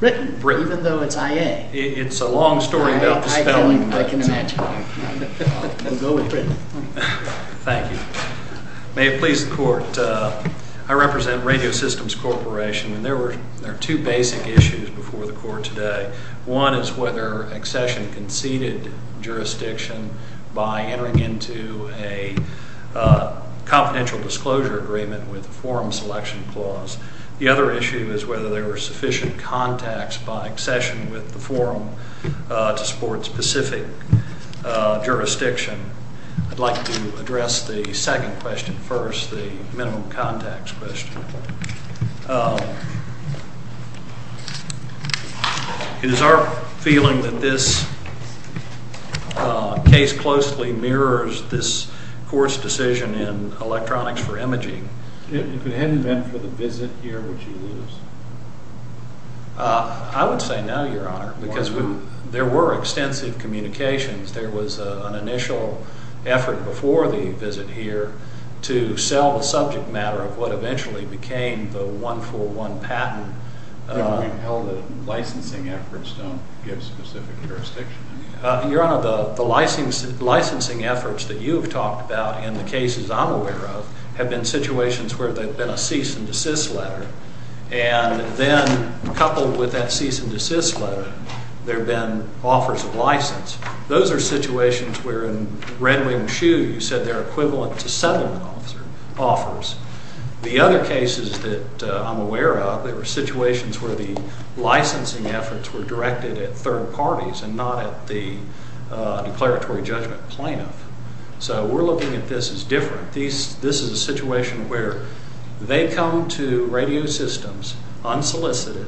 May it please the Court, I represent Radio Systems Corporation, and there are two basic issues before the Court today. One is whether Accession conceded jurisdiction by entering into a confidential disclosure agreement with the Forum Selection Clause. The other issue is whether there were sufficient contacts by Accession with the Forum to support specific jurisdiction. I'd like to address the second question first, the minimum contacts question. Is our feeling that this case closely mirrors this Court's decision in Electronics for Imaging? If it hadn't been for the visit here, would you lose? I would say no, Your Honor, because there were extensive communications. There was an initial effort before the visit here to sell the subject matter of what eventually became the one-for-one patent. Then we held that licensing efforts don't give specific jurisdiction. Your Honor, the licensing efforts that you've talked about in the cases I'm aware of have been situations where there have been a cease and desist letter, and then coupled with that cease and desist letter, there have been offers of license. Those are situations where in Red Wing Shoe, you said they're equivalent to settlement officer offers. The other cases that I'm aware of, there were situations where the licensing efforts were directed at third parties and not at the declaratory judgment plaintiff. So we're looking at this as different. This is a situation where they come to radio systems unsolicited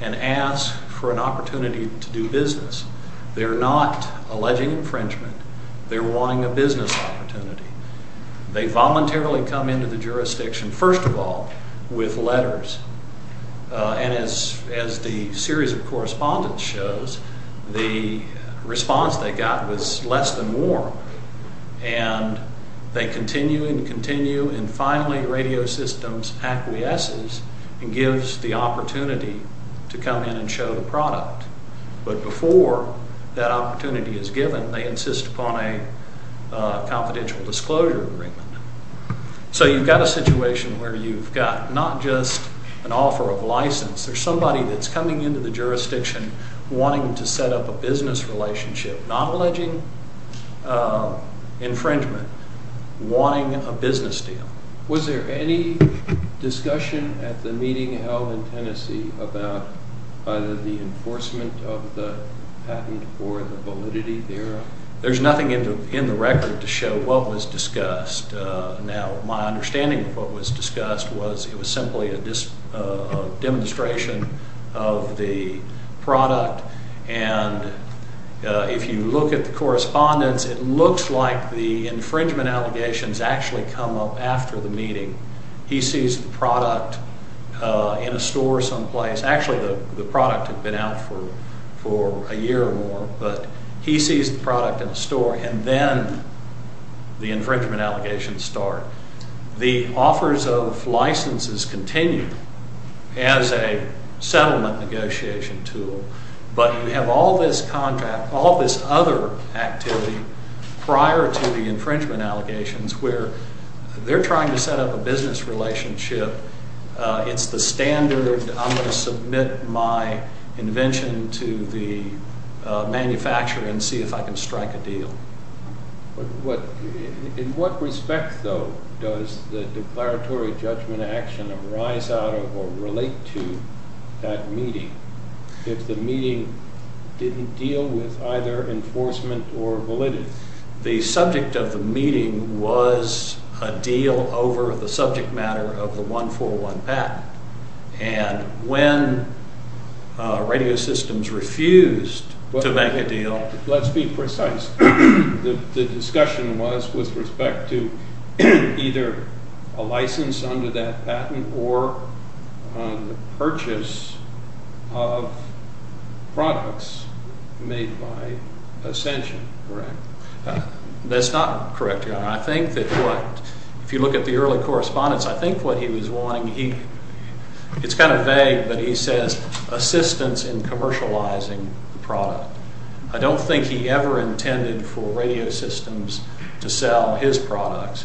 and ask for an opportunity to do business. They're not alleging infringement. They're wanting a business opportunity. They voluntarily come into the jurisdiction, first of all, with letters, and as the series of correspondence shows, the response they got was less than warm, and they continue and continue, and finally, radio systems acquiesces and gives the opportunity to come in and show the product, but before that opportunity is given, they insist upon a confidential disclosure agreement. So you've got a situation where you've got not just an offer of license. There's somebody that's coming into the jurisdiction wanting to set up a business relationship, not alleging infringement, wanting a business deal. Was there any discussion at the meeting held in Tennessee about either the enforcement of the patent or the validity thereof? There's nothing in the record to show what was discussed. Now, my understanding of what was discussed was it was simply a demonstration of the product, and if you look at the correspondence, it looks like the infringement allegations actually come up after the meeting. He sees the product in a store someplace. Actually, the product had been out for a year or more, but he sees the product in a store, and then the infringement allegations start. The offers of licenses continue as a settlement negotiation tool, but you have all this other activity prior to the infringement allegations where they're trying to set up a business relationship. It's the standard. I'm going to submit my invention to the manufacturer and see if I can strike a deal. In what respect, though, does the declaratory judgment action arise out of or relate to that meeting if the meeting didn't deal with either enforcement or validity? The subject of the meeting was a deal over the subject matter of the 141 patent, and when radio systems refused to make a deal... Let's be precise. The discussion was with respect to either a license under that patent or the purchase of products made by Ascension, correct? That's not correct, Your Honor. I think that what, if you look at the early correspondence, I think what he was wanting, it's kind of vague, but he says assistance in commercializing the product. I don't think he ever intended for radio systems to sell his products.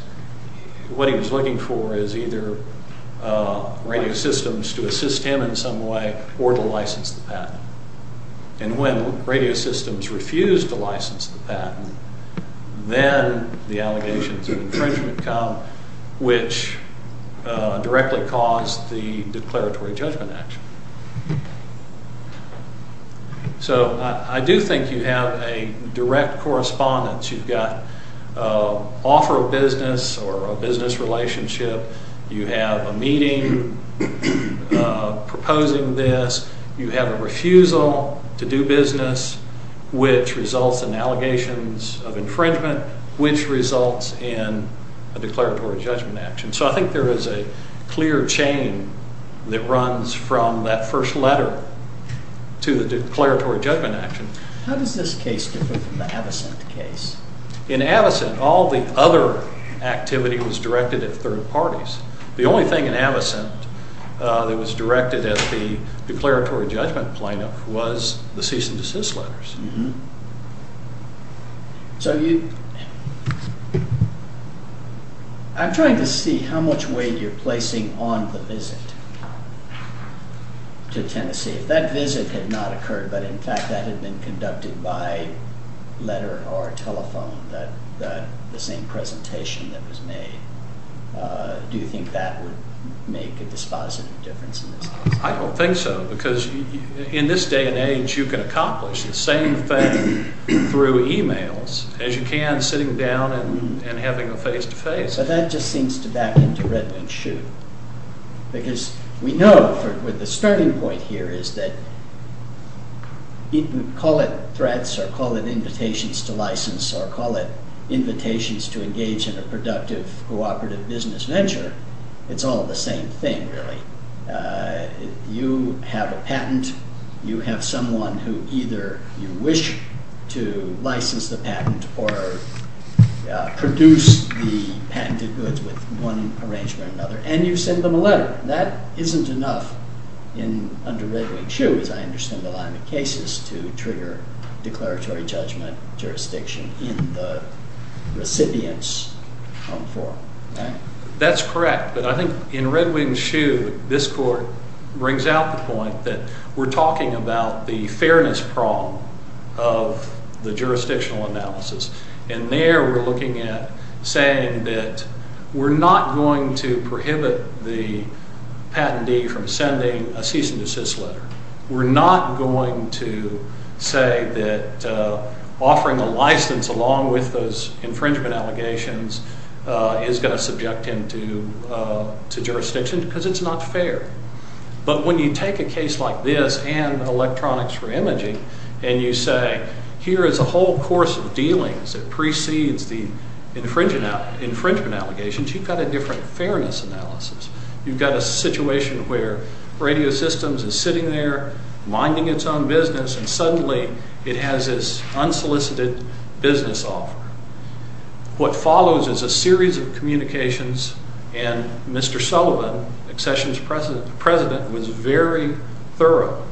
What he was looking for is either radio systems to assist him in some way or to license the patent. And when radio systems refused to license the patent, then the allegations of infringement come, which directly caused the declaratory judgment action. So, I do think you have a direct correspondence. You've got offer of business or a business relationship, you have a meeting proposing this, you have a refusal to do business, which results in allegations of infringement, which results in a declaratory judgment action. So I think there is a clear chain that runs from that first letter to the declaratory judgment action. How does this case differ from the Avocent case? In Avocent, all the other activity was directed at third parties. The only thing in Avocent that was directed at the declaratory judgment plaintiff was the cease and desist letters. So, I'm trying to see how much weight you're placing on the visit to Tennessee. If that visit had not occurred, but in fact that had been conducted by letter or telephone, the same presentation that was made, do you think that would make a dispositive difference in this case? I don't think so, because in this day and age, you can accomplish the same thing through emails as you can sitting down and having a face-to-face. But that just seems to back into Redmond's shoot, because we know with the starting point here is that, call it threats or call it invitations to license or call it invitations to engage in a productive, cooperative business venture, it's all the same thing, really. You have a patent. You have someone who either you wish to license the patent or produce the patented goods with one arrangement or another, and you send them a letter. That isn't enough under Red Wing's shoe, as I understand the line of cases to trigger declaratory judgment jurisdiction in the recipient's home form. That's correct. But I think in Red Wing's shoe, this court brings out the point that we're talking about the fairness prong of the jurisdictional analysis, and there we're looking at saying that we're not going to prohibit the patentee from sending a cease and desist letter. We're not going to say that offering a license along with those infringement allegations is going to subject him to jurisdiction, because it's not fair. But when you take a case like this and electronics for imaging, and you say, here is a whole course of dealings that precedes the infringement allegations, you've got a different fairness analysis. You've got a situation where Radio Systems is sitting there, minding its own business, and suddenly it has this unsolicited business offer. What follows is a series of communications, and Mr. Sullivan, Accessions President, was very thorough.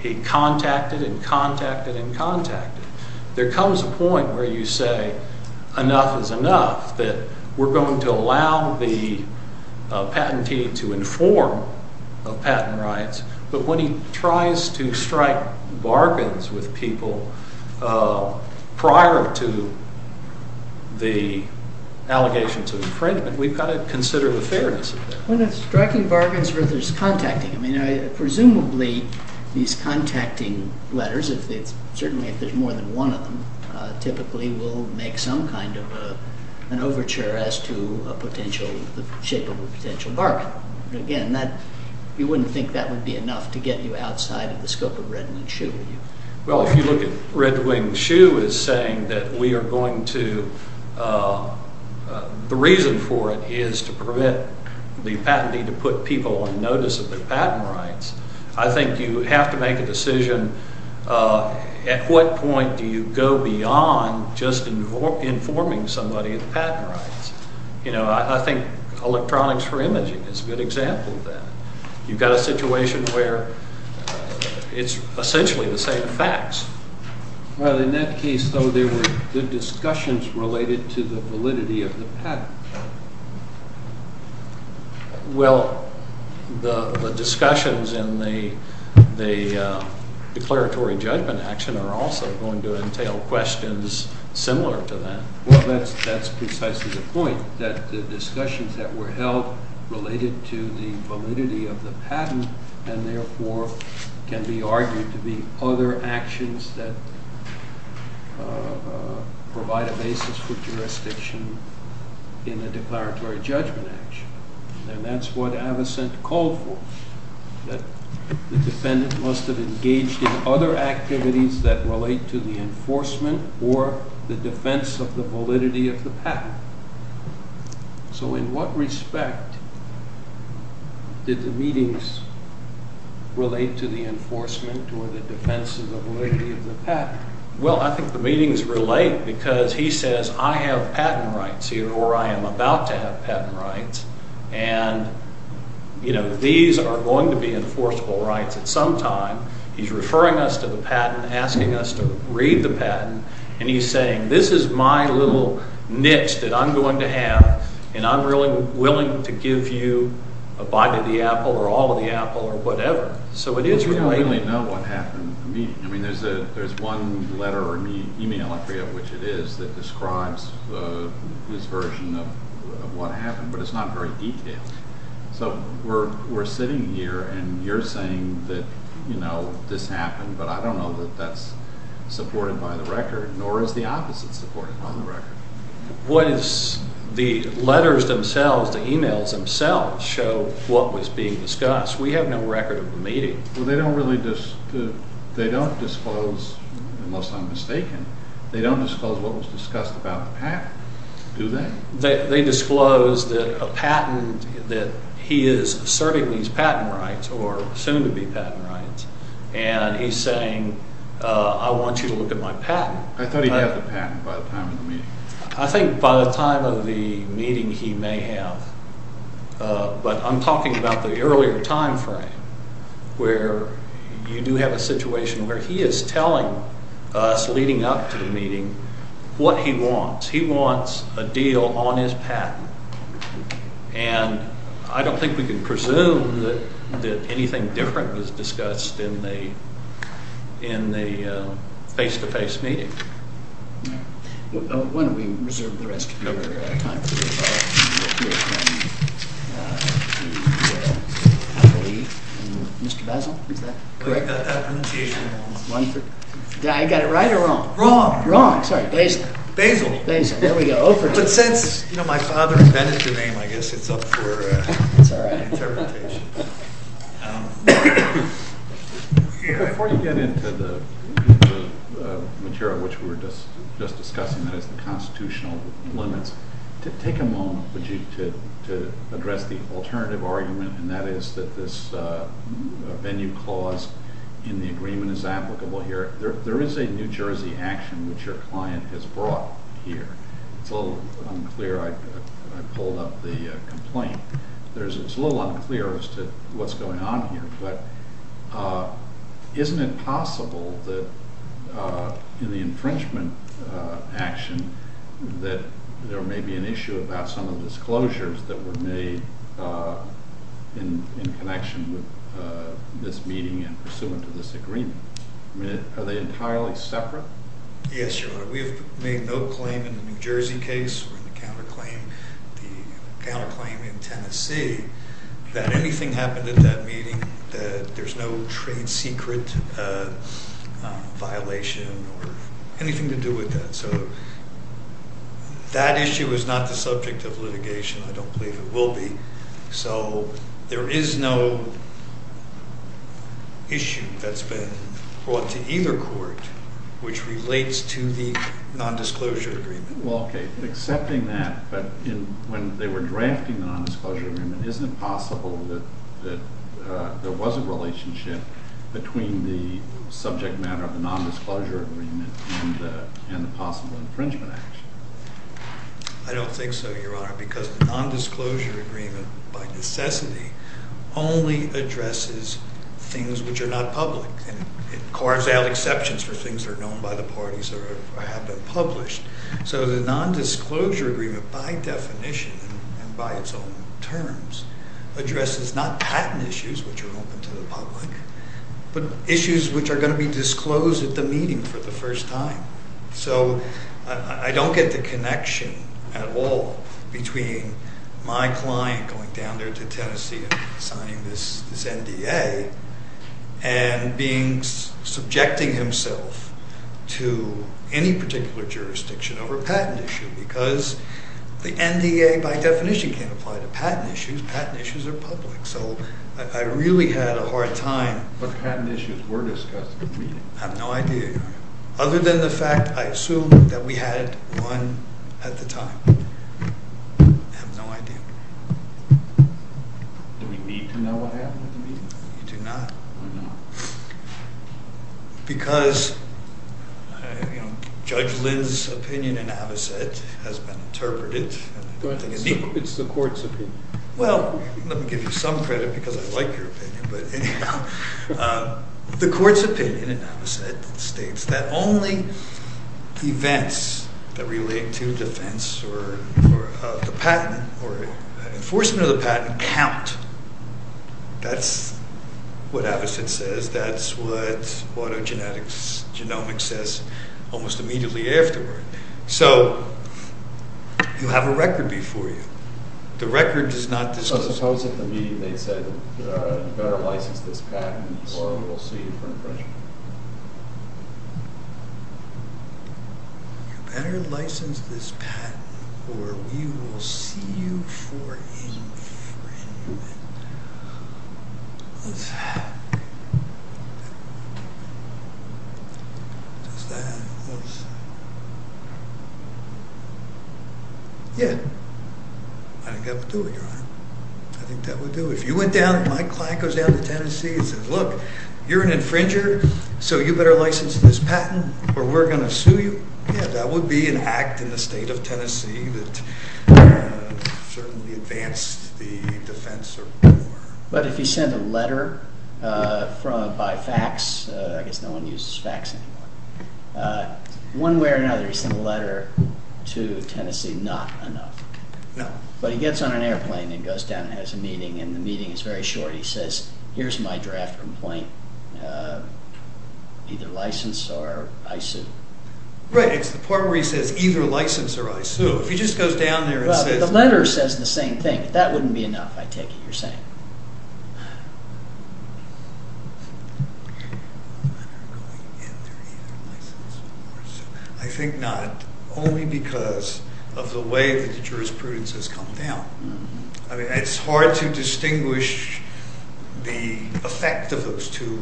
He contacted and contacted and contacted. There comes a point where you say enough is enough, that we're going to allow the patentee to inform of patent rights. But when he tries to strike bargains with people prior to the allegation to infringement, we've got to consider the fairness of that. When it's striking bargains, there's contacting. I mean, presumably, these contacting letters, certainly if there's more than one of them, typically will make some kind of an overture as to the shape of a potential bargain. Again, you wouldn't think that would be enough to get you outside of the scope of Red Wing Shoe, would you? Well, if you look at Red Wing Shoe as saying that we are going to, the reason for it is to prevent the patentee to put people on notice of their patent rights, I think you have to make a decision at what point do you go beyond just informing somebody of the patent rights. You know, I think electronics for imaging is a good example of that. You've got a situation where it's essentially the same facts. Well, in that case, though, there were good discussions related to the validity of the patent. Well, the discussions in the declaratory judgment action are also going to entail questions similar to that. Well, that's precisely the point, that the discussions that were held related to the validity of the patent and therefore can be argued to be other actions that provide a basis for jurisdiction in a declaratory judgment action. And that's what Avocent called for, that the defendant must have engaged in other activities that relate to the enforcement or the defense of the validity of the patent. So in what respect did the meetings relate to the enforcement or the defense of the validity of the patent? Well, I think the meetings relate because he says, I have patent rights here or I am about to have patent rights and, you know, these are going to be enforceable rights at some time. He's referring us to the patent, asking us to read the patent, and he's saying, this is my little niche that I'm going to have and I'm really willing to give you a bite of the apple or all of the apple or whatever. So it is related. We don't really know what happened in the meeting. I mean, there's one letter or email, I forget which it is, that describes this version of what happened, but it's not very detailed. So we're sitting here and you're saying that, you know, this happened, but I don't know that that's supported by the record, nor is the opposite supported by the record. What is the letters themselves, the emails themselves, show what was being discussed? We have no record of the meeting. Well, they don't really disclose, unless I'm mistaken, they don't disclose what was discussed about the patent, do they? They disclose that a patent, that he is serving these patent rights, or soon to be patent rights, and he's saying, I want you to look at my patent. I thought he'd have the patent by the time of the meeting. I think by the time of the meeting he may have, but I'm talking about the earlier time frame where you do have a situation where he is telling us, leading up to the meeting, what he wants. He wants a deal on his patent, and I don't think we can presume that anything different was discussed in the face-to-face meeting. Why don't we reserve the rest of your time for this, I believe, and Mr. Basil, is that correct? I got it right or wrong? Wrong. Wrong, sorry, Basil. Basil. There we go. But since, you know, my father invented the name, I guess it's up for interpretation. Before you get into the material which we were just discussing, that is the constitutional limits, take a moment, would you, to address the alternative argument, and that is that this venue clause in the agreement is applicable here. There is a New Jersey action which your client has brought here. It's a little unclear, I pulled up the complaint, it's a little unclear as to what's going on here, but isn't it possible that in the infringement action that there may be an issue about some of the disclosures that were made in connection with this meeting and pursuant to this agreement? I mean, are they entirely separate? Yes, Your Honor, we have made no claim in the New Jersey case or in the counterclaim, the counterclaim in Tennessee, that anything happened at that meeting that there's no trade secret violation or anything to do with that. So that issue is not the subject of litigation. I don't believe it will be. So there is no issue that's been brought to either court which relates to the nondisclosure agreement. Well, okay, accepting that, but when they were drafting the nondisclosure agreement, isn't it possible that there was a relationship between the subject matter of the nondisclosure agreement and the possible infringement action? I don't think so, Your Honor, because the nondisclosure agreement, by necessity, only addresses things which are not public. And it carves out exceptions for things that are known by the parties that have been published. So the nondisclosure agreement, by definition and by its own terms, addresses not patent issues, which are open to the public, but issues which are going to be disclosed at the meeting for the first time. So I don't get the connection at all between my client going down there to Tennessee and signing this NDA and subjecting himself to any particular jurisdiction over a patent issue, because the NDA, by definition, can't apply to patent issues. Patent issues are public. So I really had a hard time. But patent issues were discussed at the meeting. I have no idea, Your Honor. Other than the fact, I assume, that we had one at the time. I have no idea. Do we need to know what happened at the meeting? We do not. Why not? Because, you know, Judge Lin's opinion in Avocet has been interpreted. But it's the court's opinion. Well, let me give you some credit, because I like your opinion. But anyhow, the court's opinion in Avocet states that only events that relate to defense or the patent or enforcement of the patent count. That's what Avocet says. That's what autogenetics, genomics says almost immediately afterward. So you have a record before you. The record is not disclosed. I suppose at the meeting they'd say, you better license this patent, or we'll see you for infringement. You better license this patent, or we will see you for infringement. Does that make sense? Yeah. I think that would do it, Your Honor. I think that would do it. If you went down, my client goes down to Tennessee and says, look, you're an infringer, so you better license this patent, or we're going to sue you. Yeah, that would be an act in the state of Tennessee that certainly advanced the defense or war. But if he sent a letter by fax, I guess no one uses fax anymore. One way or another, he sent a letter to Tennessee, not enough. No. But he gets on an airplane and goes down and has a meeting, and the meeting is very short. He says, here's my draft complaint. Either license or I sue. Right. It's the part where he says, either license or I sue. If he just goes down there and says that. The letter says the same thing. If that wouldn't be enough, I take it you're saying. I think not, only because of the way that the jurisprudence has come down. I mean, it's hard to distinguish the effect of those two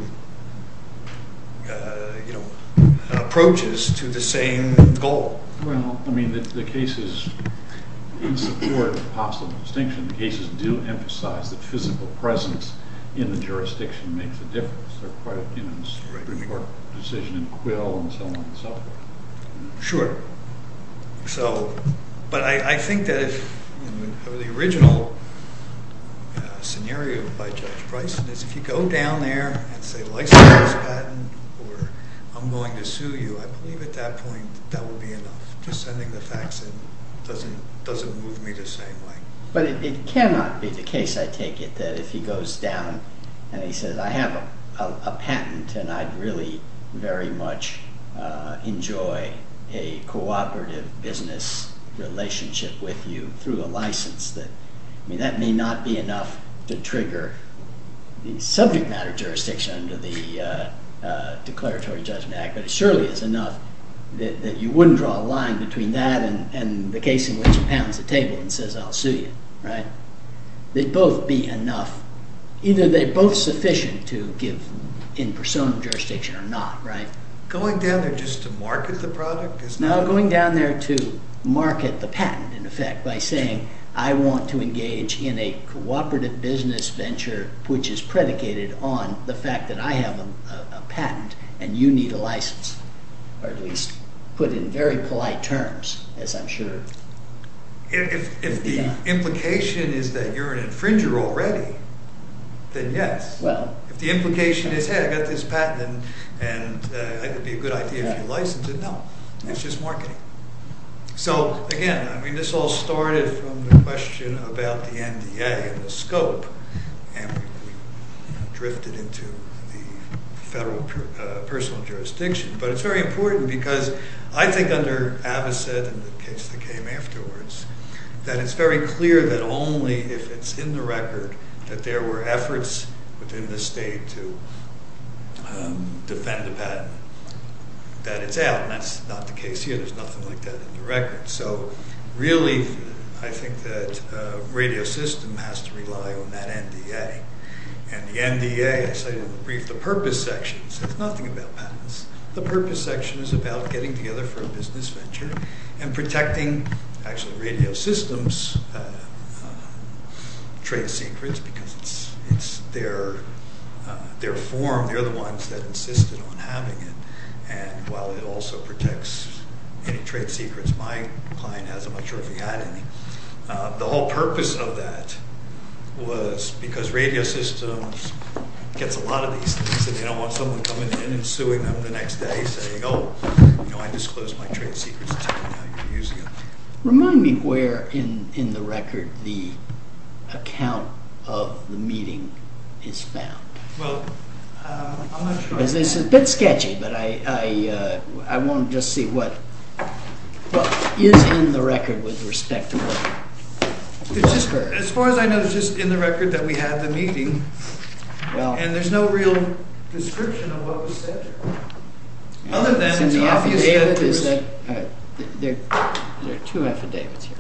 approaches to the same goal. Well, I mean, the cases in support of possible distinction, the cases do emphasize that physical presence in the jurisdiction makes a difference. Is there quite a difference between the court decision in Quill and so on and so forth? Sure. But I think that if the original scenario by Judge Bryson is if you go down there and say license is patent or I'm going to sue you, I believe at that point that would be enough. Just sending the fax in doesn't move me the same way. But it cannot be the case, I take it, that if he goes down and he says, I have a patent and I'd really very much enjoy a cooperative business relationship with you through a license that, I mean, that may not be enough to trigger the subject matter jurisdiction under the Declaratory Judgment Act, but it surely is enough that you wouldn't draw a line between that and the case in which he pounds the table and says I'll sue you, right? They'd both be enough. Either they're both sufficient to give in persona jurisdiction or not, right? Going down there just to market the product is not... No, going down there to market the patent, in effect, by saying I want to engage in a cooperative business venture which is predicated on the fact that I have a patent and you need a license, or at least put in very polite terms, as I'm sure... If the implication is that you're an infringer already, then yes. Well... If the implication is, hey, I've got this patent and it would be a good idea if you license it, no, it's just marketing. So, again, I mean, this all started from the question about the NDA and the scope and drifted into the federal personal jurisdiction, but it's very important because I think under Avaset and the case that came afterwards, that it's very clear that only if it's in the record that there were efforts within the state to defend the patent, that it's out, and that's not the case here. There's nothing like that in the record. So, really, I think that a radio system has to rely on that NDA, and the NDA, as I said in the brief, the purpose section says nothing about patents. The purpose section is about getting together for a business venture and protecting, actually, radio systems' trade secrets because it's their form. They're the ones that insisted on having it, and while it also protects any trade secrets, my client has, I'm not sure if he had any, the whole purpose of that was because radio systems gets a lot of these things and they don't want someone coming in and suing them the next day saying, oh, you know, I disclosed my trade secrets, now you're using them. Remind me where in the record the account of the meeting is found. Well, I'm not sure. This is a bit sketchy, but I want to just see what is in the record with respect to what was heard. As far as I know, it's just in the record that we had the meeting, and there's no real description of what was said here, other than it's obvious that there's... There's no affidavits here.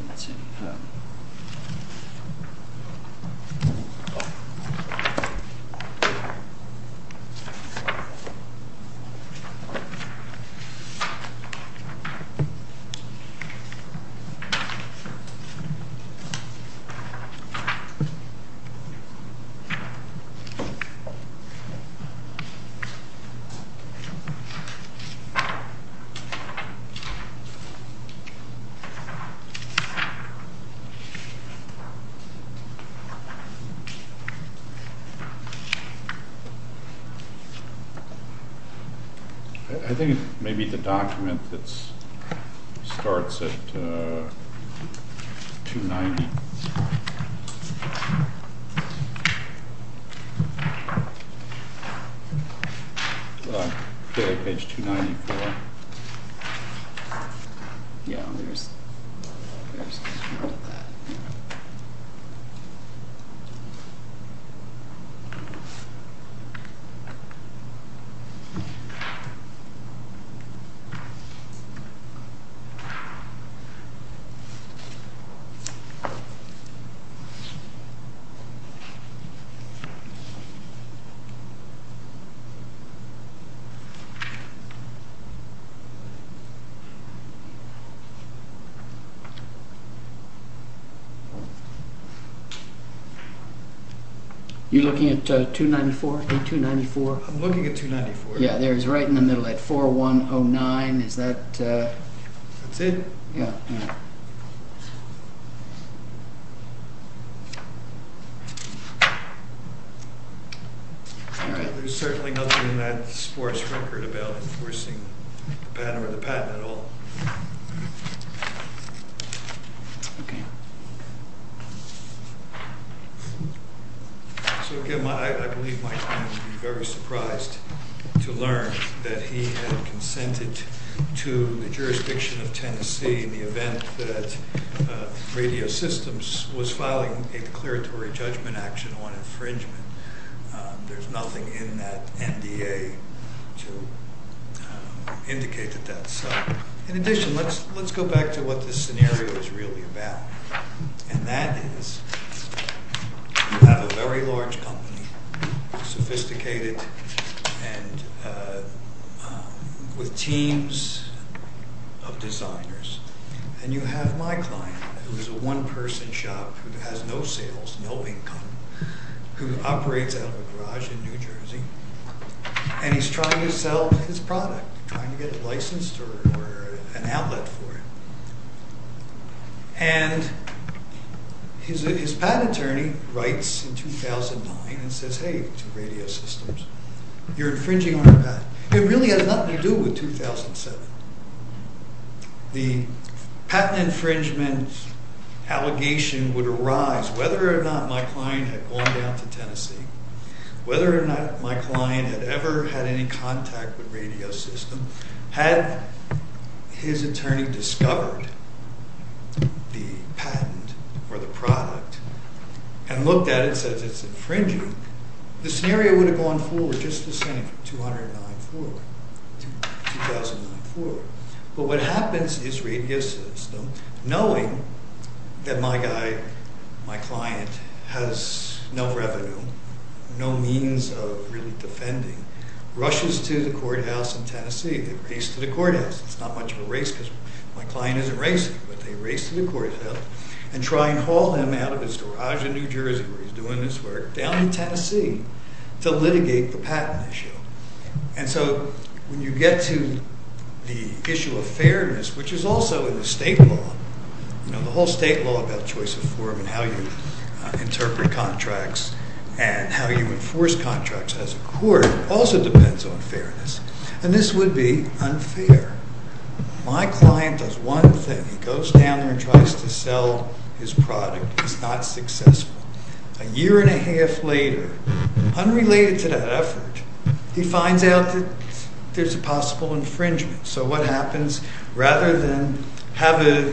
I think it may be the document that starts at 290. Okay, page 294. Yeah, there's a description of that. Are you looking at 294, page 294? I'm looking at 294. Yeah, there's right in the middle, at 4109, is that... That's it? Yeah. All right. There's certainly nothing in that sports record about enforcing the patent or the patent at all. Okay. So again, I believe my client would be very surprised to learn that he had consented to the jurisdiction of Tennessee in the event that Radio Systems was filing a declaratory judgment action on infringement. There's nothing in that NDA to indicate that that's so. In addition, let's go back to what this scenario is really about, and that is you have a very large network of designers, and you have my client who is a one-person shop who has no sales, no income, who operates out of a garage in New Jersey, and he's trying to sell his product, trying to get a license or an outlet for it. And his patent attorney writes in 2009 and says, hey, to Radio Systems, you're infringing on a patent. It really has nothing to do with 2007. The patent infringement allegation would arise whether or not my client had gone down to Tennessee, whether or not my client had ever had any contact with Radio Systems, had his attorney discovered the patent or the product and looked at it and said it's infringing, the scenario would have gone forward just the same, 2009 forward, 2009 forward. But what happens is Radio Systems, knowing that my guy, my client has no revenue, no means of really defending, rushes to the courthouse in Tennessee. They race to the courthouse. It's not much of a race because my client isn't racing, but they race to the courthouse and try and haul him out of his garage in New Jersey where he's doing this work down in Tennessee to litigate the patent issue. And so when you get to the issue of fairness, which is also in the state law, you know, the whole state law about choice of form and how you interpret contracts and how you enforce contracts as a court also depends on fairness. And this would be unfair. My client does one thing. He goes down there and tries to sell his product. He's not successful. A year and a half later, unrelated to that effort, he finds out that there's a possible infringement. So what happens, rather than have a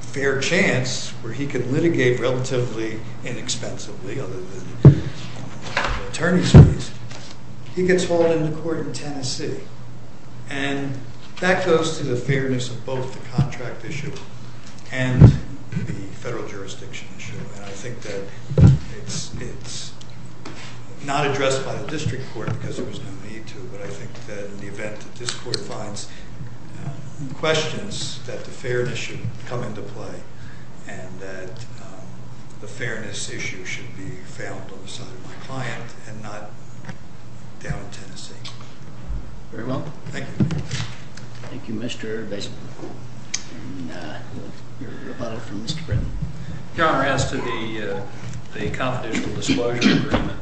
fair chance where he can litigate relatively inexpensively for the attorney's fees, he gets hauled into court in Tennessee. And that goes to the fairness of both the contract issue and the federal jurisdiction issue. And I think that it's not addressed by the district court because there was no need to, but I think that in the event that this court finds questions that the fairness should come into play and that the fairness issue should be found on the side of my client and not down in Tennessee. Very well. Thank you. Thank you, Mr. Baseman. And we'll hear about it from Mr. Britton. Your Honor, as to the confidential disclosure agreement,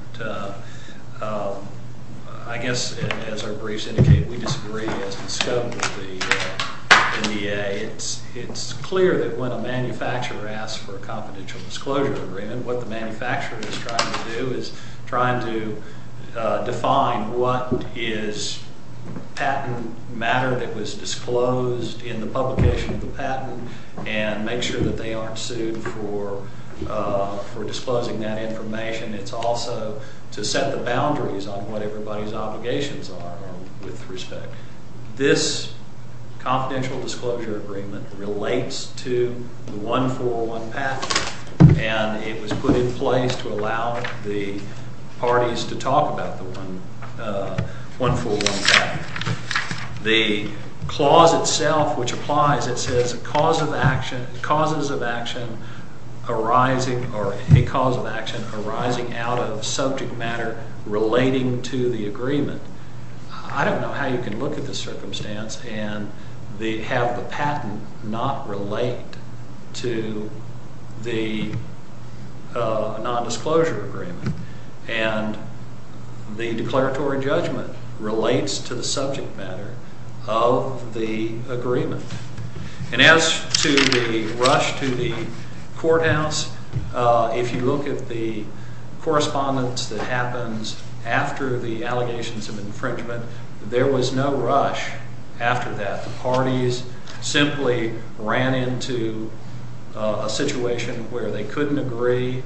I guess as our briefs indicate, we disagree as the scope of the NDA. It's clear that when a manufacturer asks for a confidential disclosure agreement, what the manufacturer is trying to do is trying to define what is patent matter that was disclosed in the publication of the patent and make sure that they aren't sued for disclosing that information. It's also to set the boundaries on what everybody's obligations are with respect. This confidential disclosure agreement relates to the 141 patent, and it was put in place to allow the parties to talk about the 141 patent. The clause itself, which applies, it says causes of action arising or a cause of action arising out of subject matter relating to the agreement. I don't know how you can look at the circumstance and have the patent not relate to the subject matter of the agreement. And as to the rush to the courthouse, if you look at the correspondence that happens after the allegations of infringement, there was no rush after that. The parties simply ran into a situation where they couldn't agree.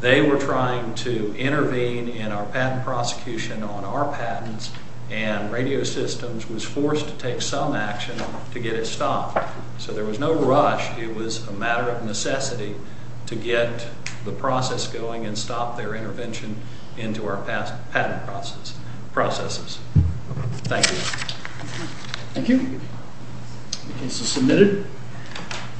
They were trying to intervene in our patent prosecution on our patents, and Radio Systems was forced to take some action to get it stopped. So there was no rush. It was a matter of necessity to get the process going and stop their intervention into our past patent processes. Thank you. Thank you. The case is submitted.